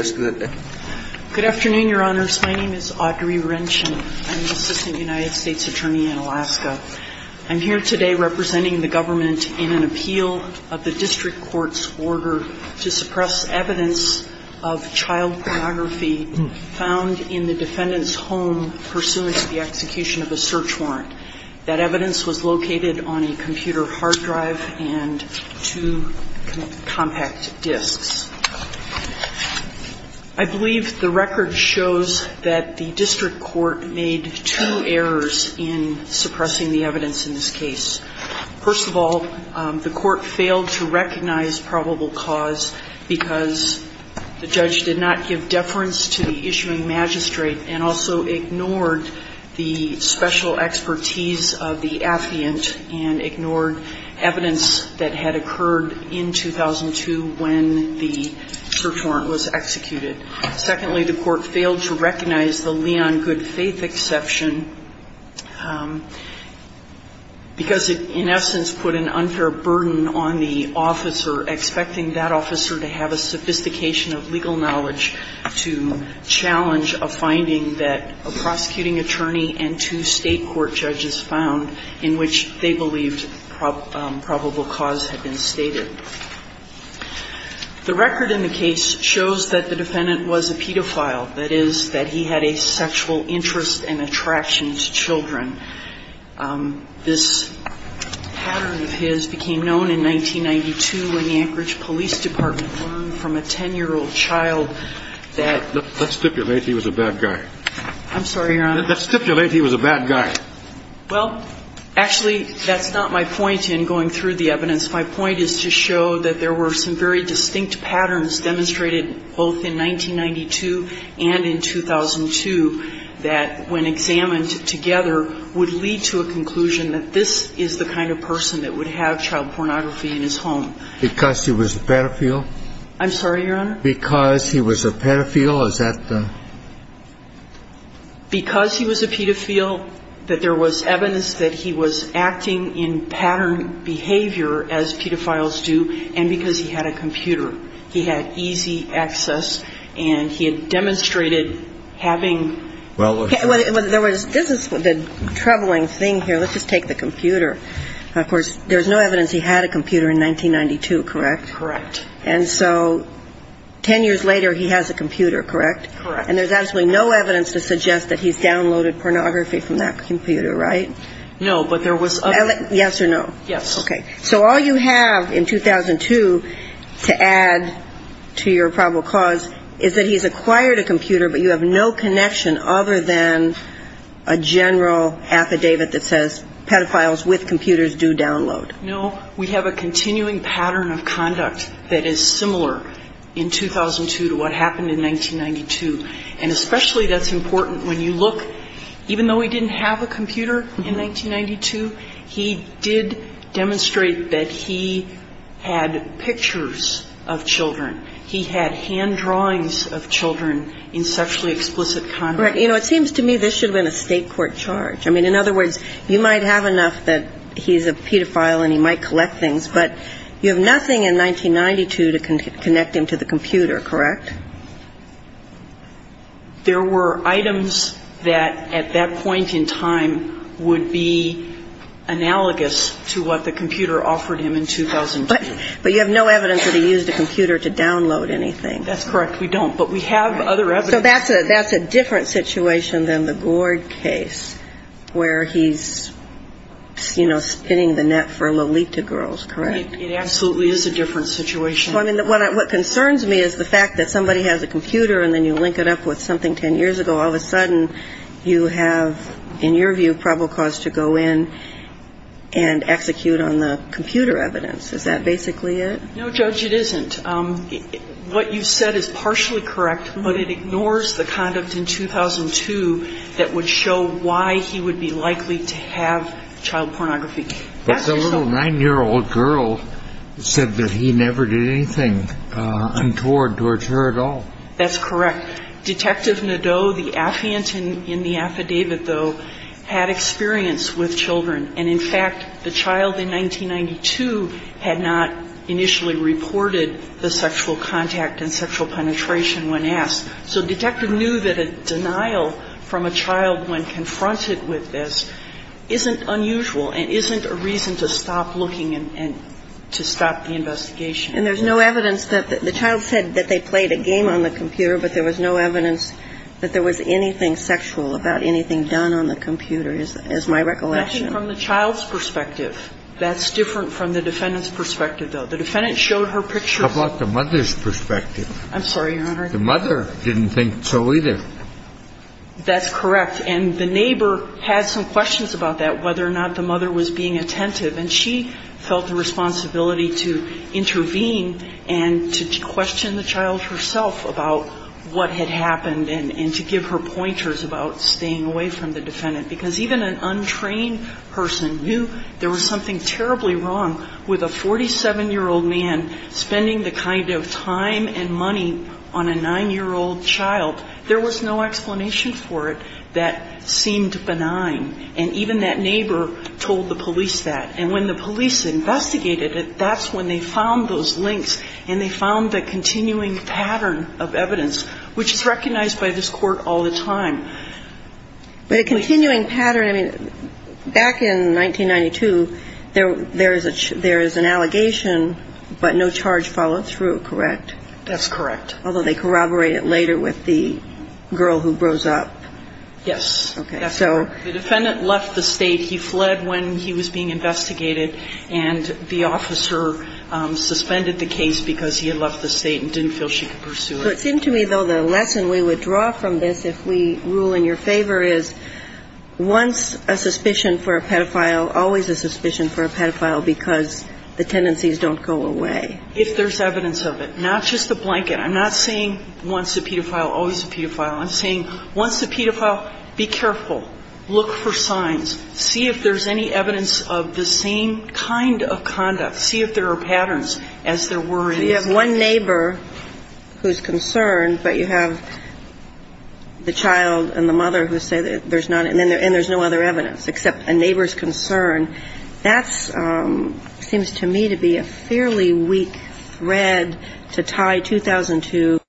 Good afternoon, Your Honors. My name is Audrey Wrenchen. I'm the Assistant United States Attorney in Alaska. I'm here today representing the government in an appeal of the district court's order to suppress evidence of child pornography found in the defendant's home pursuant to the execution of a search warrant. That evidence was located on a computer hard drive and two compact disks. I believe the record shows that the district court made two errors in suppressing the evidence in this case. First of all, the court failed to recognize probable cause because the judge did not give deference to the issuing magistrate and also ignored the special expertise of the affluent and ignored evidence that had occurred in 2002 when the child pornography was found. Secondly, the court failed to recognize the Leon Good Faith exception because it, in essence, put an unfair burden on the officer, expecting that officer to have a sophistication of legal knowledge to challenge a finding that a prosecuting attorney and two state court judges found in which they believed probable cause had been stated. The record in the case shows that the defendant was a pedophile, that is, that he had a sexual interest and attraction to children. This pattern of his became known in 1992 when the Anchorage Police Department learned from a 10-year-old child that – Let's stipulate he was a bad guy. I'm sorry, Your Honor. Let's stipulate he was a bad guy. Well, actually, that's not my point in going through the evidence. My point is to show that there were some very distinct patterns demonstrated both in 1992 and in 2002 that, when examined together, would lead to a conclusion that this is the kind of person that would have child pornography in his home. Because he was a pedophile? I'm sorry, Your Honor? Because he was a pedophile? Is that the – Because he was a pedophile, that there was evidence that he was acting in pattern behavior, as pedophiles do, and because he had a computer. He had easy access, and he had demonstrated having – Well, there was – this is the troubling thing here. Let's just take the computer. Of course, there's no evidence he had a computer in 1992, correct? Correct. And so 10 years later, he has a computer, correct? Correct. And there's absolutely no evidence to suggest that he's downloaded pornography from that computer, right? No, but there was – Yes or no? Yes. Okay. So all you have in 2002 to add to your probable cause is that he's acquired a computer, but you have no connection other than a general affidavit that says pedophiles with computers do download. No. We have a continuing pattern of conduct that is similar in 2002 to what happened in 1992. And especially that's important when you look – even though he didn't have a computer in 1992, he did demonstrate that he had pictures of children. He had hand drawings of children in sexually explicit conduct. Right. You know, it seems to me this should have been a state court charge. I mean, in other words, you might have enough that he's a pedophile and he might collect things, but you have nothing in 1992 to connect him to the computer, correct? There were items that at that point in time would be analogous to what the computer offered him in 2002. But you have no evidence that he used a computer to download anything. That's correct. We don't. But we have other evidence. So that's a different situation than the Gord case where he's, you know, spinning the net for Lolita girls, correct? It absolutely is a different situation. Well, I mean, what concerns me is the fact that somebody has a computer and then you link it up with something 10 years ago. All of a sudden, you have, in your view, probable cause to go in and execute on the computer evidence. Is that basically it? No, Judge, it isn't. What you said is partially correct, but it ignores the conduct in 2002 that would show why he would be likely to have child pornography. But the little 9-year-old girl said that he never did anything untoward towards her at all. That's correct. Detective Nadeau, the affiant in the affidavit, though, had experience with children. And, in fact, the child in 1992 had not initially reported the sexual contact and sexual penetration when asked. So Detective Nadeau knew that a denial from a child when confronted with this isn't unusual and isn't a reason to stop looking and to stop the investigation. And there's no evidence that the child said that they played a game on the computer, but there was no evidence that there was anything sexual about anything done on the computer is my recollection. I think from the child's perspective, that's different from the defendant's perspective, though. The defendant showed her picture. How about the mother's perspective? I'm sorry, Your Honor. The mother didn't think so either. That's correct. And the neighbor had some questions about that, whether or not the mother was being attentive. And she felt the responsibility to intervene and to question the child herself about what had happened and to give her pointers about staying away from the defendant. Because even an untrained person knew there was something terribly wrong with a 47-year-old man spending the kind of time and money on a 9-year-old child. There was no explanation for it that seemed benign. And even that neighbor told the police that. And when the police investigated it, that's when they found those links and they found the continuing pattern of evidence, which is recognized by this Court all the time. But a continuing pattern, I mean, back in 1992, there is an allegation, but no charge followed through, correct? That's correct. Although they corroborated later with the girl who grows up. Yes. Okay. That's correct. The defendant left the State. He fled when he was being investigated. And the officer suspended the case because he had left the State and didn't feel she could pursue it. So it seemed to me, though, the lesson we would draw from this if we rule in your favor is once a suspicion for a pedophile, always a suspicion for a pedophile because the tendencies don't go away. If there's evidence of it. Not just a blanket. I'm not saying once a pedophile, always a pedophile. I'm saying once a pedophile, be careful. Look for signs. See if there's any evidence of the same kind of conduct. See if there are patterns as there were in this case. You have one neighbor who's concerned, but you have the child and the mother who say there's none. And there's no other evidence except a neighbor's concern. And that seems to me to be a fairly weak thread to tie 2002.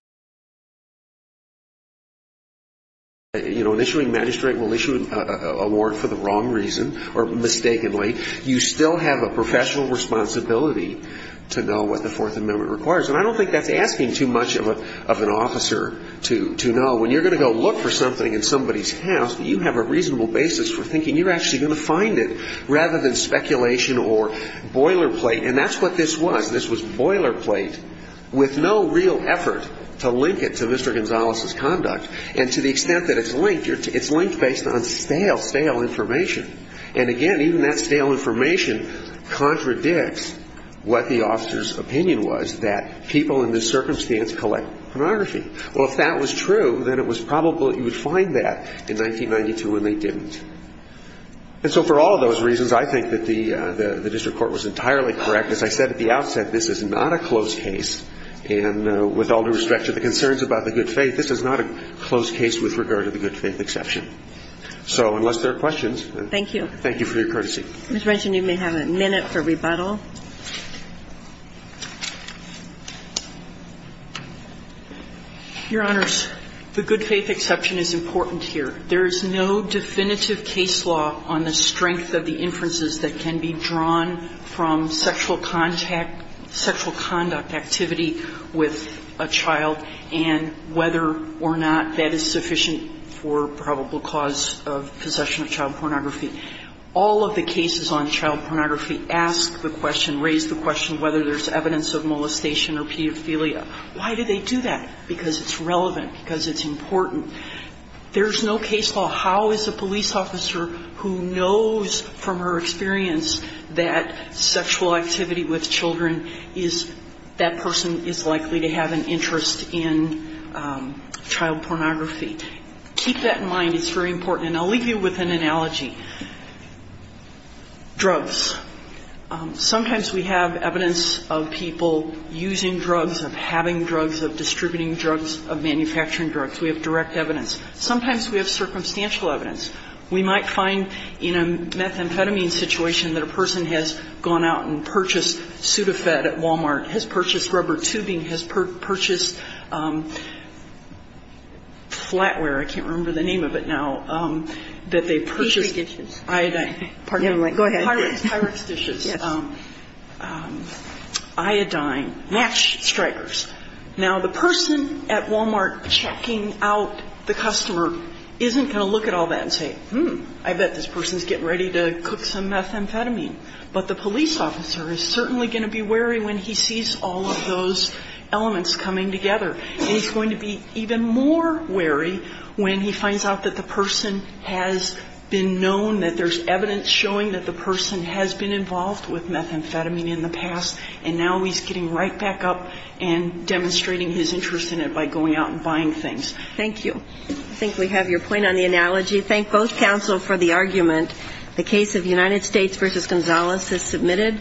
You know, an issuing magistrate will issue an award for the wrong reason or mistakenly. You still have a professional responsibility to know what the Fourth Amendment requires. And I don't think that's asking too much of an officer to know. When you're going to go look for something in somebody's house, you have a reasonable basis for thinking you're actually going to find it rather than speculation or boilerplate. And that's what this was. This was boilerplate with no real effort to link it to Mr. Gonzalez's conduct. And to the extent that it's linked, it's linked based on stale, stale information. And, again, even that stale information contradicts what the officer's opinion was that people in this circumstance collect pornography. Well, if that was true, then it was probable that you would find that in 1992 when they didn't. And so for all of those reasons, I think that the district court was entirely correct. As I said at the outset, this is not a closed case. And with all due respect to the concerns about the good faith, this is not a closed case with regard to the good faith exception. So unless there are questions. Thank you. Thank you for your courtesy. Ms. Renshaw, you may have a minute for rebuttal. Your Honors, the good faith exception is important here. There is no definitive case law on the strength of the inferences that can be drawn from sexual contact, sexual conduct activity with a child and whether or not that is sufficient for probable cause of possession of child pornography. All of the cases on child pornography ask the question, raise the question whether there's evidence of molestation or pedophilia. Why do they do that? Because it's relevant. Because it's important. There's no case law. How is a police officer who knows from her experience that sexual activity with children is, that person is likely to have an interest in child pornography? Keep that in mind. It's very important. And I'll leave you with an analogy. Drugs. Sometimes we have evidence of people using drugs, of having drugs, of distributing drugs, of manufacturing drugs. We have direct evidence. Sometimes we have circumstantial evidence. We might find in a methamphetamine situation that a person has gone out and purchased Sudafed at Walmart, has purchased rubber tubing, has purchased flatware. I can't remember the name of it now. That they purchased iodine. Go ahead. Pyrex dishes. Iodine match strikers. Now, the person at Walmart checking out the customer isn't going to look at all that and say, hmm, I bet this person is getting ready to cook some methamphetamine. But the police officer is certainly going to be wary when he sees all of those elements coming together. And he's going to be even more wary when he finds out that the person has been known, that there's evidence showing that the person has been involved with methamphetamine in the past, and now he's getting right back up and demonstrating his interest in it by going out and buying things. Thank you. I think we have your point on the analogy. Thank both counsel for the argument. The case of United States v. Gonzalez is submitted.